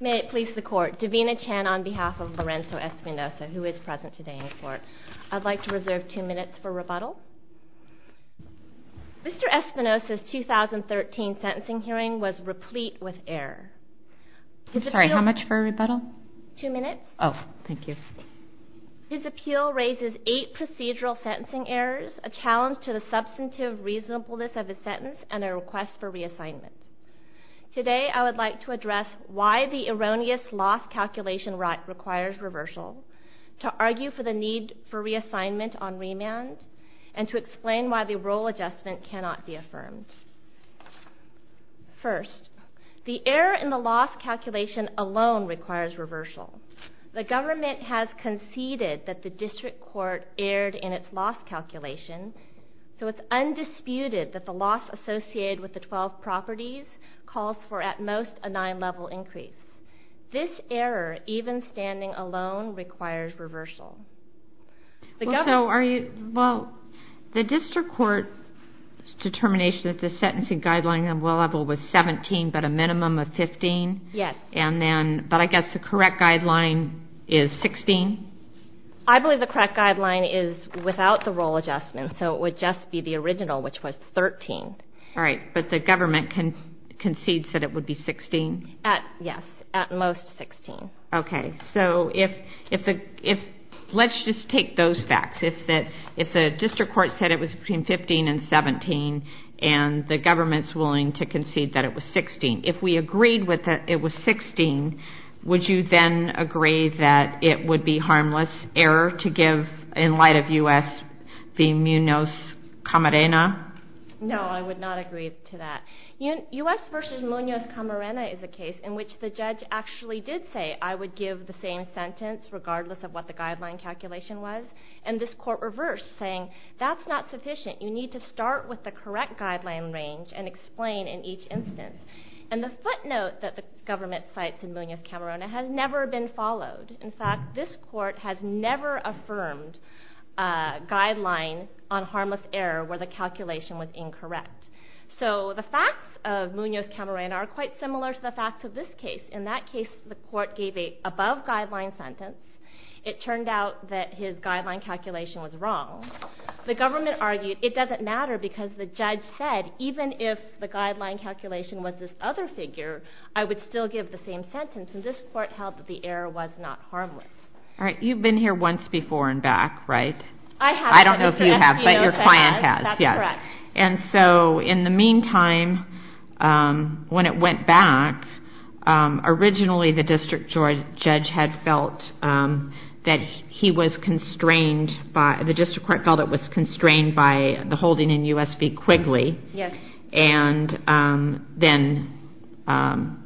May it please the court, Davina Chan on behalf of Lorenzo Espinoza who is present today in court. I'd like to reserve two minutes for rebuttal. Mr. Espinoza's 2013 sentencing hearing was replete with error. Sorry, how much for a rebuttal? Two minutes. Oh, thank you. His appeal raises eight procedural sentencing errors, a challenge to the substantive reasonableness of his sentence, and a request for reassignment. Today I would like to address why the erroneous loss calculation requires reversal, to argue for the need for reassignment on remand, and to explain why the rule adjustment cannot be affirmed. First, the error in the loss calculation alone requires reversal. The government has conceded that the district court erred in its loss calculation, so it's undisputed that the loss associated with the 12 properties calls for at most a nine level increase. This error, even standing alone, requires reversal. Well, so are you, well, the district court's determination that the sentencing guideline on low level was 17, but a minimum of 15? Yes. And then, but I guess the correct guideline is 16? I believe the correct guideline is without the role adjustment, so it would just be the original, which was 13. All right, but the government concedes that it would be 16? Yes, at most 16. Okay, so if, let's just take those facts. If the district court said it was between 15 and 17, and the government's willing to concede that it was 16, if we agreed that it was 16, would you then agree that it would be harmless error to give, in light of U.S., the munos camarena? No, I would not agree to that. U.S. versus munos camarena is a case in which the judge actually did say, I would give the same sentence regardless of what the guideline calculation was, and this court reversed, saying, that's not sufficient. You need to start with the correct guideline range and explain in each instance. And the court note that the government sites in munos camarena has never been followed. In fact, this court has never affirmed a guideline on harmless error where the calculation was incorrect. So the facts of munos camarena are quite similar to the facts of this case. In that case, the court gave a above guideline sentence. It turned out that his guideline calculation was wrong. The government argued, it doesn't matter because the judge said, even if the guideline calculation was this other figure, I would still give the same sentence, and this court held that the error was not harmless. All right, you've been here once before and back, right? I have. I don't know if you have, but your client has. That's correct. And so in the meantime, when it went back, originally the district judge had felt that he was constrained by, the district court felt it was constrained by the holding in and then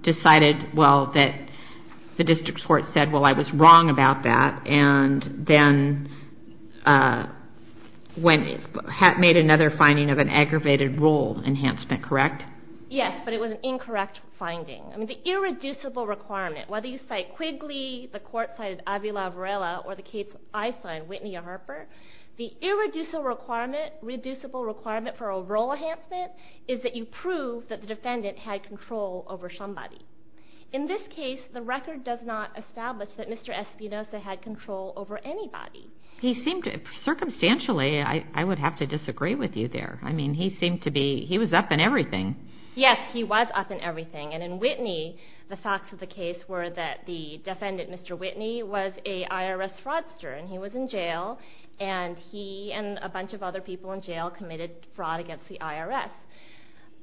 decided, well, that the district court said, well, I was wrong about that. And then when it had made another finding of an aggravated rule enhancement, correct? Yes, but it was an incorrect finding. I mean, the irreducible requirement, whether you cite Quigley, the court cited Avila Varela, or the case I signed, Whitney Harper, the irreducible requirement, reducible requirement for a rule enhancement is that you prove that the defendant had control over somebody. In this case, the record does not establish that Mr. Espinoza had control over anybody. He seemed to, circumstantially, I would have to disagree with you there. I mean, he seemed to be, he was up in everything. Yes, he was up in everything, and in Whitney, the facts of the case were that the defendant, Mr. Whitney, was a IRS fraudster, and he was in jail, and he and a bunch of other people in jail committed fraud against the IRS.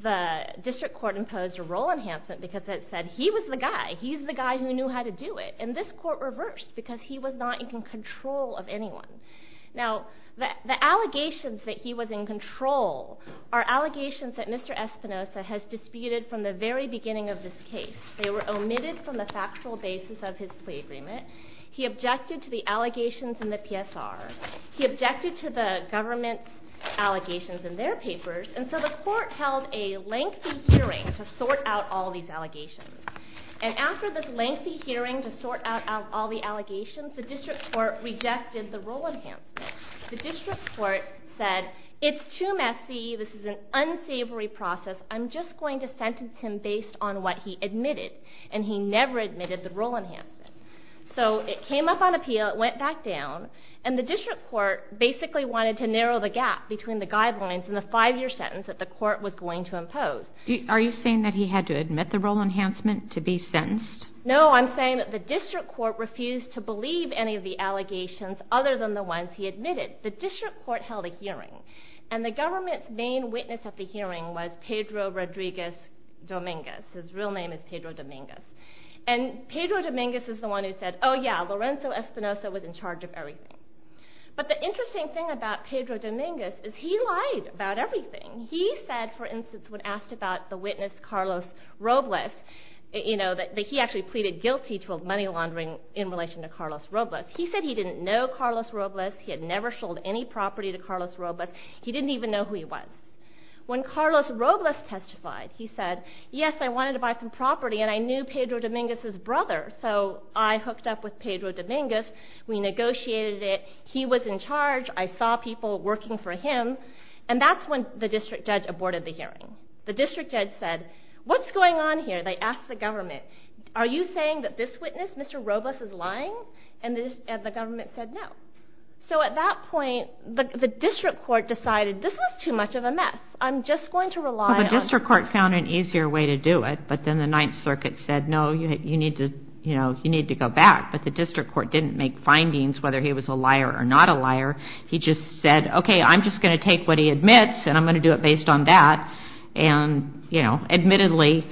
The district court imposed a rule enhancement because it said he was the guy, he's the guy who knew how to do it, and this court reversed because he was not in control of anyone. Now, the allegations that he was in control are allegations that Mr. Espinoza has disputed from the very beginning of this case. They were omitted from the factual basis of his plea agreement. He objected to the allegations in the PSR. He objected to the government allegations in their papers, and so the court held a lengthy hearing to sort out all these allegations, and after this lengthy hearing to sort out all the allegations, the district court rejected the rule enhancement. The district court said, it's too messy, this is an unsavory process, I'm just going to sentence him based on what he admitted, and he never admitted the rule enhancement. So, it came up on appeal, it went back down, and the district court basically wanted to narrow the gap between the guidelines and the five-year sentence that the court was going to impose. Are you saying that he had to admit the rule enhancement to be sentenced? No, I'm saying that the district court refused to believe any of the allegations other than the ones he admitted. The district court held a hearing, and the government's main witness at the hearing was Pedro Rodriguez Dominguez. His real name is Pedro Dominguez. And Pedro Dominguez is the one who said, oh yeah, Lorenzo Espinosa was in charge of everything. But the interesting thing about Pedro Dominguez is he lied about everything. He said, for instance, when asked about the witness Carlos Robles, you know, that he actually pleaded guilty to a money laundering in relation to Carlos Robles. He said he didn't know Carlos Robles. He didn't even know who he was. When Carlos Robles testified, he said, yes, I wanted to buy some property, and I knew Pedro Dominguez's brother. So, I hooked up with Pedro Dominguez. We negotiated it. He was in charge. I saw people working for him. And that's when the district judge aborted the hearing. The district judge said, what's going on here? They asked the government, are you saying that this witness, Mr. Robles, is lying? And the government said no. So, at that point, the district court decided this was too much of a mess. I'm just going to rely on. Well, the district court found an easier way to do it, but then the Ninth Circuit said, no, you need to, you know, you need to go back. But the district court didn't make findings whether he was a liar or not a liar. He just said, okay, I'm just going to take what he admits and I'm going to do it based on that. And, you know, admittedly,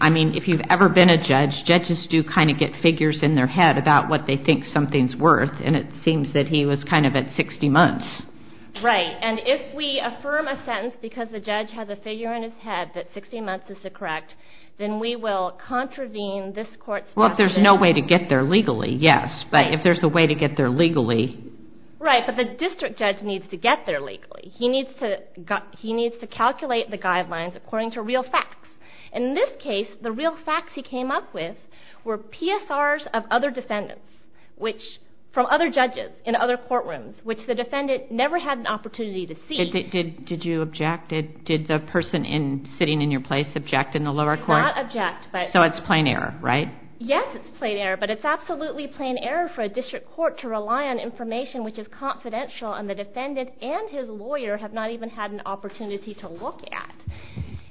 I mean, if you've ever been a judge, judges do kind of get figures in their head about what they think something's worth. And it seems that he was kind of at 60 months. Right. And if we affirm a sentence because the judge has a figure in his head that 60 months is the correct, then we will contravene this court's... Well, if there's no way to get there legally, yes. But if there's a way to get there legally... Right. But the district judge needs to get there legally. He needs to calculate the guidelines according to real facts. In this case, the real facts he came up with were PSRs of other defendants, which, from other judges in other courtrooms, which the defendant never had an opportunity to see. Did you object? Did the person sitting in your place object in the lower court? Not object, but... So it's plain error, right? Yes, it's plain error. But it's absolutely plain error for a district court to rely on information which is confidential and the defendant and his lawyer have not even had an opportunity to look at.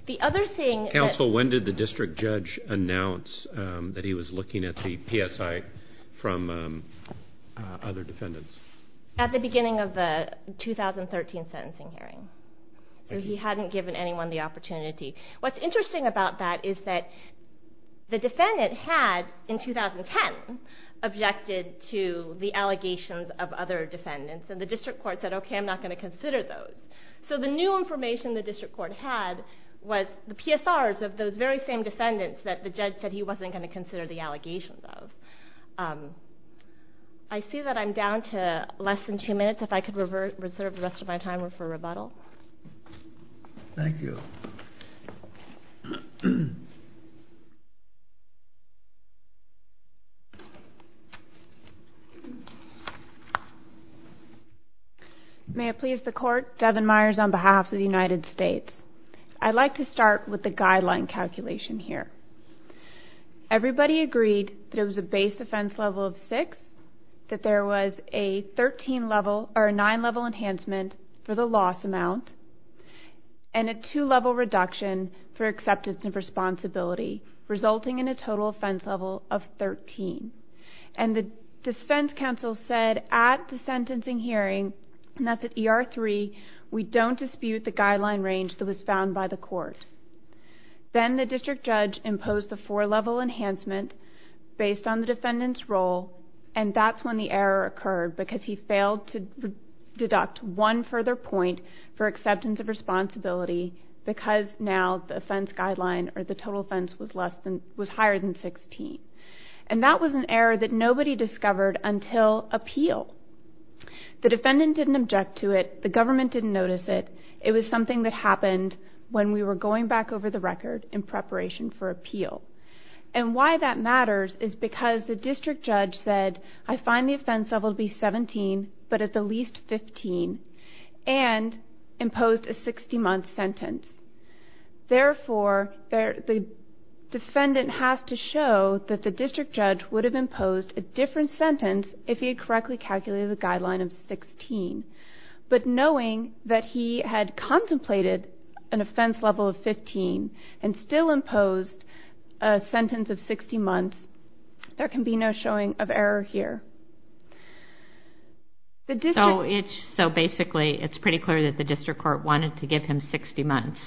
The other thing... Counsel, when did the district judge announce that he was looking at the PSI from other defendants? At the beginning of the 2013 sentencing hearing. He hadn't given anyone the opportunity. What's interesting about that is that the defendant had, in 2010, objected to the allegations of other defendants, and the district court said, okay, I'm not going to consider those. So the new information the district court had was the PSRs of those very same defendants that the judge said he wasn't going to consider the allegations of. I see that I'm down to less than two minutes. If I could reserve the rest of my time for rebuttal. Thank you. May it please the court, Devin Myers on behalf of the United States. I'd like to start with the guideline calculation here. Everybody agreed that it was a base offense level of 13, and a two-level reduction for acceptance and responsibility, resulting in a total offense level of 13. And the defense counsel said at the sentencing hearing, and that's at ER3, we don't dispute the guideline range that was found by the court. Then the district judge imposed a four-level enhancement based on the defendant's role, and that's when the district judge said, I find the offense level to be 17, but at the least 15. And that was an error that nobody discovered until appeal. The defendant didn't object to it. The government didn't notice it. It was something that happened when we were going back over the record in preparation for appeal. And why that matters is because the district judge said, I find the offense level to be 17, but at the least 15, and imposed a 60-month sentence. Therefore, the defendant has to show that the district judge would have imposed a different sentence if he had correctly calculated the guideline of 16. But knowing that he had contemplated an offense level of 15 and still imposed a sentence of 60 months, there can be no showing of error here. So basically, it's pretty clear that the district court wanted to give him 60 months.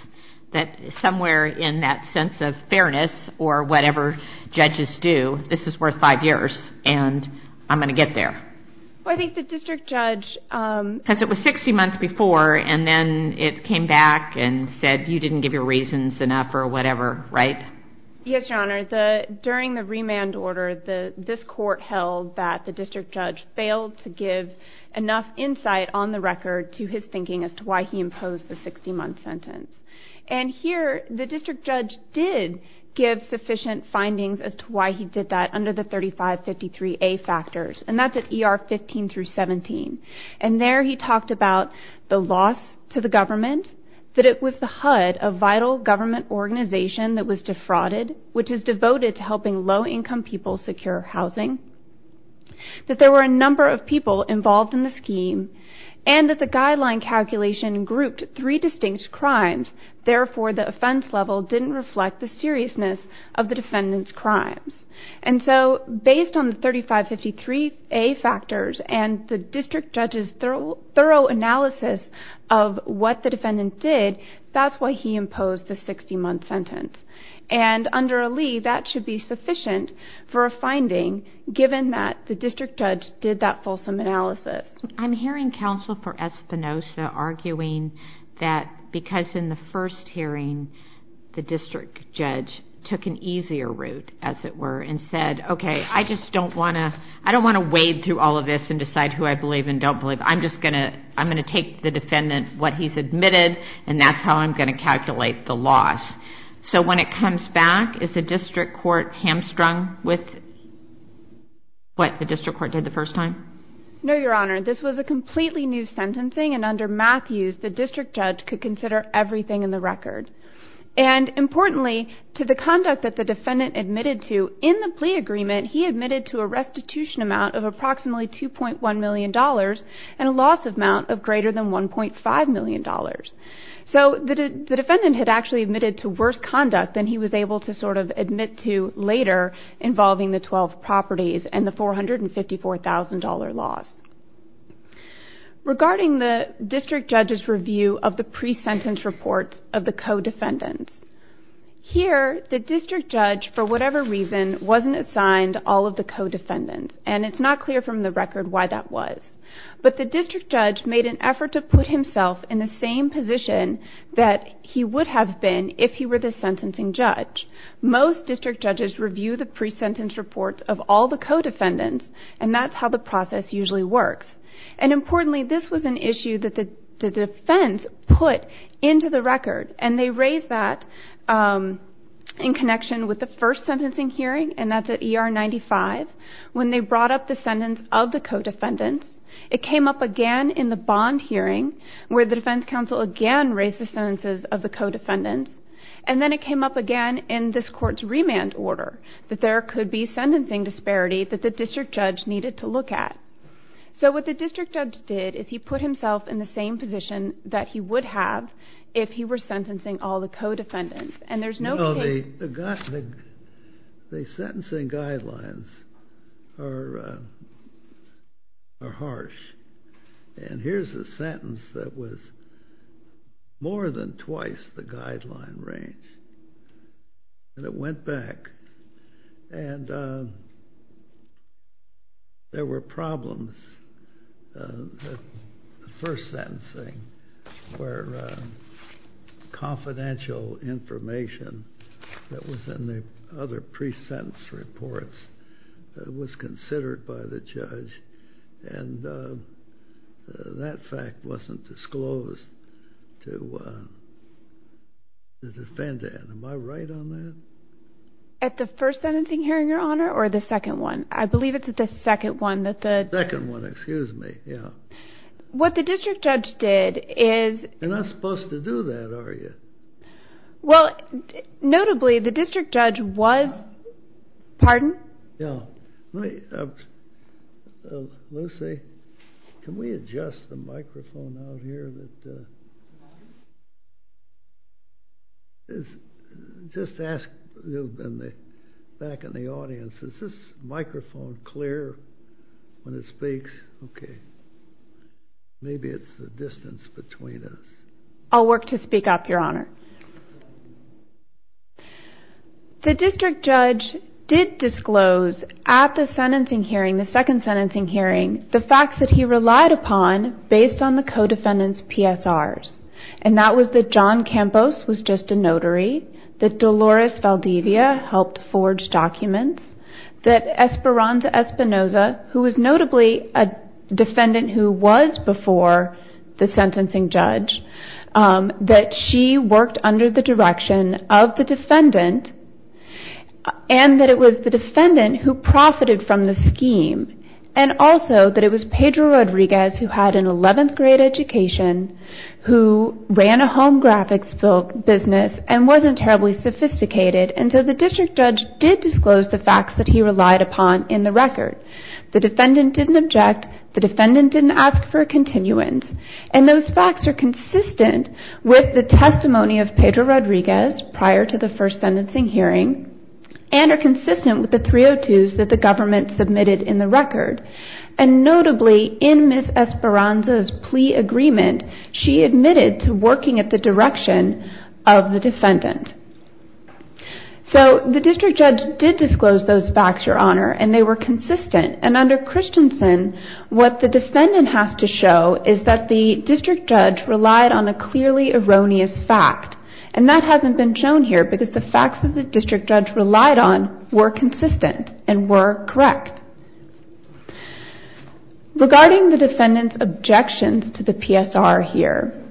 That somewhere in that sense of fairness, or whatever judges do, this is worth five years, and I'm going to get there. Well, I think the district judge... Because it was 60 months before, and then it came back and said, you didn't give your reasons enough, or whatever, right? Yes, Your Honor. During the remand order, this court held that the district judge failed to give enough insight on the record to his thinking as to why he imposed the 60-month sentence. And here, the district judge did give sufficient findings as to why he did that under the 3553A factors, and that's at ER 15 through 17. And there he talked about the loss to the government, that it was the HUD, a vital government organization that was defrauded, which is devoted to helping low-income people secure housing, that there were a number of people involved in the scheme, and that the guideline calculation grouped three distinct crimes. Therefore, the offense level didn't reflect the seriousness of the defendant's crimes. And so, based on the 3553A factors and the district judge's thorough analysis of what the defendant did, that's why he imposed the 60-month sentence. And under Lee, that should be sufficient for a finding, given that the district judge did that fulsome analysis. I'm hearing counsel for Espinoza arguing that because in the first hearing, the district judge took an easier route, as it were, and said, okay, I just don't want to wade through all of this and decide who I believe and don't believe. I'm just going to take the defendant, what he's admitted, and that's how I'm going to calculate the loss. So when it comes back, is the district court hamstrung with what the district court did the first time? No, Your Honor. This was a completely new sentencing, and under Matthews, the district judge could consider everything in the record. And importantly, to the conduct that the defendant admitted to, in the plea agreement, he admitted to a restitution amount of approximately $2.1 million and a loss amount of greater than $1.5 million. So the defendant had actually admitted to worse conduct than he was able to sort of admit to later, involving the 12 properties and the $454,000 loss. Regarding the district judge's review of the pre-sentence reports of the co-defendants, here the district judge, for whatever reason, wasn't assigned all of the co-defendants, and it's not clear from the record why that was. But the district judge made an effort to put himself in the same position that he would have been if he were the sentencing judge. Most district judges review the pre-sentence reports of all the co-defendants, and that's how the process usually works. And importantly, this was an issue that the defense put into the record, and they raised that in connection with the first sentencing hearing, and that's they brought up the sentence of the co-defendants, it came up again in the bond hearing, where the defense counsel again raised the sentences of the co-defendants, and then it came up again in this court's remand order, that there could be sentencing disparity that the district judge needed to look at. So what the district judge did is he put himself in the same position that he would have if he were sentencing all the co-defendants. No, the sentencing guidelines are harsh. And here's a sentence that was more than twice the guideline range, and it went back. And there were problems at the first sentencing hearing, where confidential information that was in the other pre-sentence reports was considered by the judge, and that fact wasn't disclosed to the defendant. Am I right on that? At the first sentencing hearing, Your Honor, or the second one? I believe it's at the second one that the... You're not supposed to do that, are you? Well, notably, the district judge was... Pardon? Yeah, let me... Lucy, can we adjust the microphone out here? Just ask back in the audience, is this microphone clear when it speaks? Okay. Maybe it's the distance between us. I'll work to speak up, Your Honor. The district judge did disclose at the sentencing hearing, the second sentencing hearing, the facts that he relied upon based on the co-defendants' PSRs. And that was that John Campos was just a notary, that Dolores Valdivia helped forge documents, that Esperanza Espinoza, who was notably a defendant who was before the sentencing judge, that she worked under the direction of the defendant, and that it was the defendant who profited from the scheme. And also, that it was Pedro Rodriguez, who had an 11th grade education, who ran a home graphics business, and wasn't terribly sophisticated, and so the district judge did disclose the facts that he relied upon in the record. The defendant didn't object. The defendant didn't ask for a continuance. And those facts are consistent with the testimony of Pedro Rodriguez prior to the first sentencing hearing, and are consistent with the 302s that the government submitted in the record. And notably, in Ms. Esperanza's plea agreement, she admitted to working at the direction of the defendant. So, the district judge did disclose those facts, Your Honor, and they were consistent. And under Christensen, what the defendant has to show is that the district judge relied on a clearly erroneous fact. And that hasn't been shown here, because the facts that the district judge relied on were consistent and were correct. Regarding the defendant's objections to the PSR here,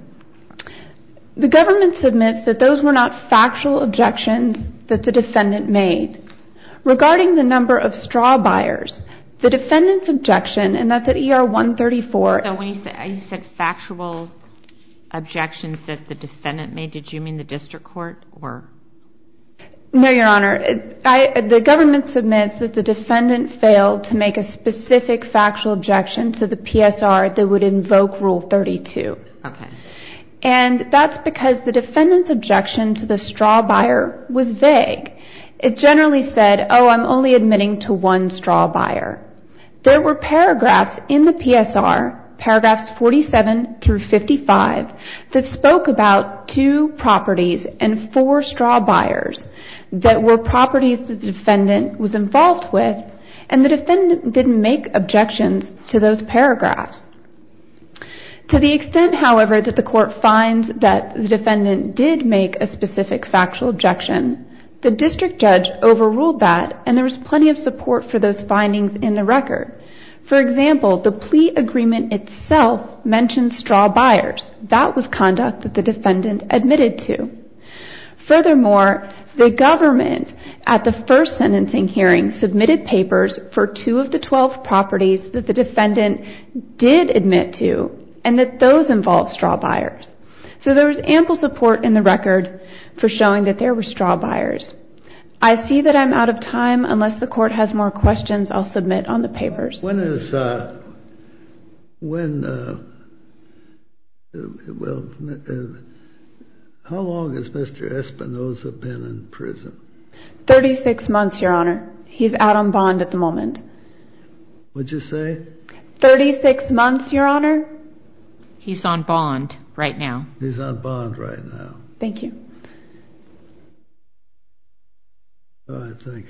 the government submits that those were not factual objections that the defendant made. Regarding the number of straw buyers, the defendant's objection, and that's at ER 134... So when you said factual objections that the defendant made, did you mean the district court? No, Your Honor. The government submits that the defendant failed to make a specific factual objection to the PSR that would invoke Rule 32. And that's because the defendant's objection to the straw buyer was vague. It generally said, oh, I'm only admitting to one straw buyer. There were paragraphs in the PSR, paragraphs 47 through 55, that spoke about two properties and four straw buyers that were properties that the defendant was involved with, and the defendant didn't make objections to those paragraphs. To the extent, however, that the court finds that the defendant did make a specific factual objection, the district judge overruled that, and there was plenty of support for those findings in the record. For example, the plea agreement itself mentioned straw buyers. That was conduct that the defendant admitted to. Furthermore, the government, at the first sentencing hearing, submitted papers for two of the 12 properties that the defendant did admit to, and that those involved straw buyers. So there was ample support in the record for showing that there were straw buyers. I see that I'm out of time. Unless the court has more questions, I'll submit on the papers. When is, when, well, how long has Mr. Espinoza been in prison? 36 months, Your Honor. He's out on bond at the moment. Would you say? 36 months, Your Honor. He's on bond right now. He's on bond right now. Thank you. All right, thank you.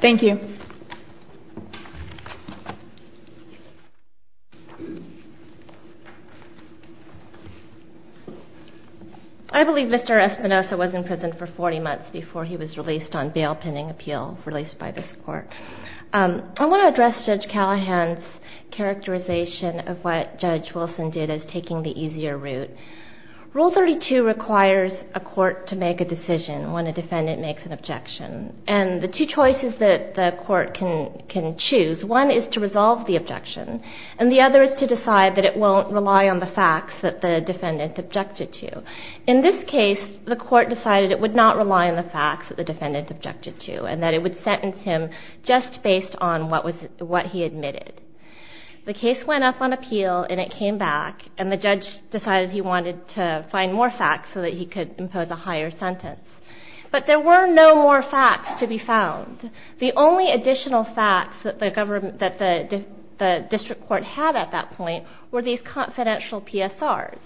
Thank you. I believe Mr. Espinoza was in prison for 40 months before he was released on bail pending appeal, released by this court. I want to address Judge Callahan's characterization of what Judge Wilson did as taking the easier route. Rule 32 requires a court to make a decision when a defendant makes an objection. And the two choices that the court can choose, one is to resolve the objection, and the other is to decide that it won't rely on the facts that the defendant objected to. In this case, the court decided it would not rely on the facts that the defendant objected to and that it would sentence him just based on what he admitted. The case went up on appeal, and it came back, and the judge decided he wanted to find more facts so that he could impose a higher sentence. But there were no more facts to be found. The only additional facts that the district court had at that point were these confidential PSRs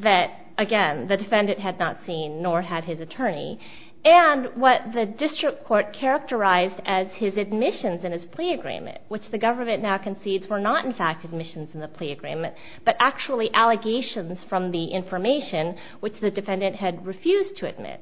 that, again, the defendant had not seen nor had his attorney, and what the district court characterized as his admissions in his plea agreement, which the government now concedes were not in fact admissions in the plea agreement but actually allegations from the information which the defendant had refused to admit.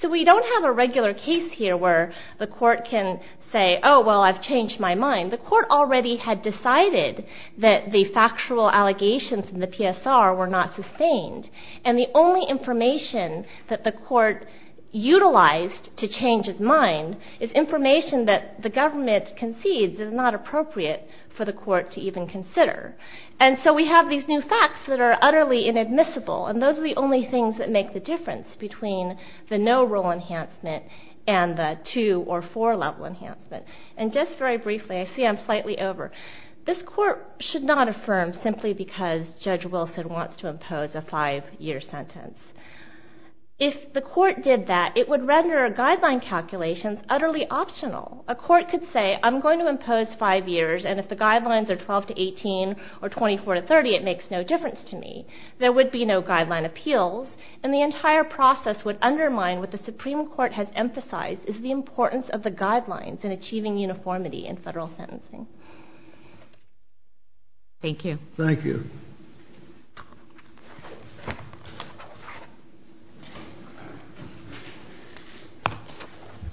So we don't have a regular case here where the court can say, oh, well, I've changed my mind. The court already had decided that the factual allegations in the PSR were not sustained, and the only information that the court utilized to change his mind is information that the government concedes is not appropriate for the court to even consider. And so we have these new facts that are utterly inadmissible, and those are the only things that make the difference between the no-rule enhancement and the two- or four-level enhancement. And just very briefly, I see I'm slightly over. This court should not affirm simply because Judge Wilson wants to impose a five-year sentence. If the court did that, it would render a guideline calculation utterly optional. A court could say, I'm going to impose five years, and if the guidelines are 12 to 18 or 24 to 30, it makes no difference to me. There would be no guideline appeals, and the entire process would undermine what the Supreme Court has emphasized is the importance of the guidelines in achieving uniformity in federal sentencing. Thank you. Thank you.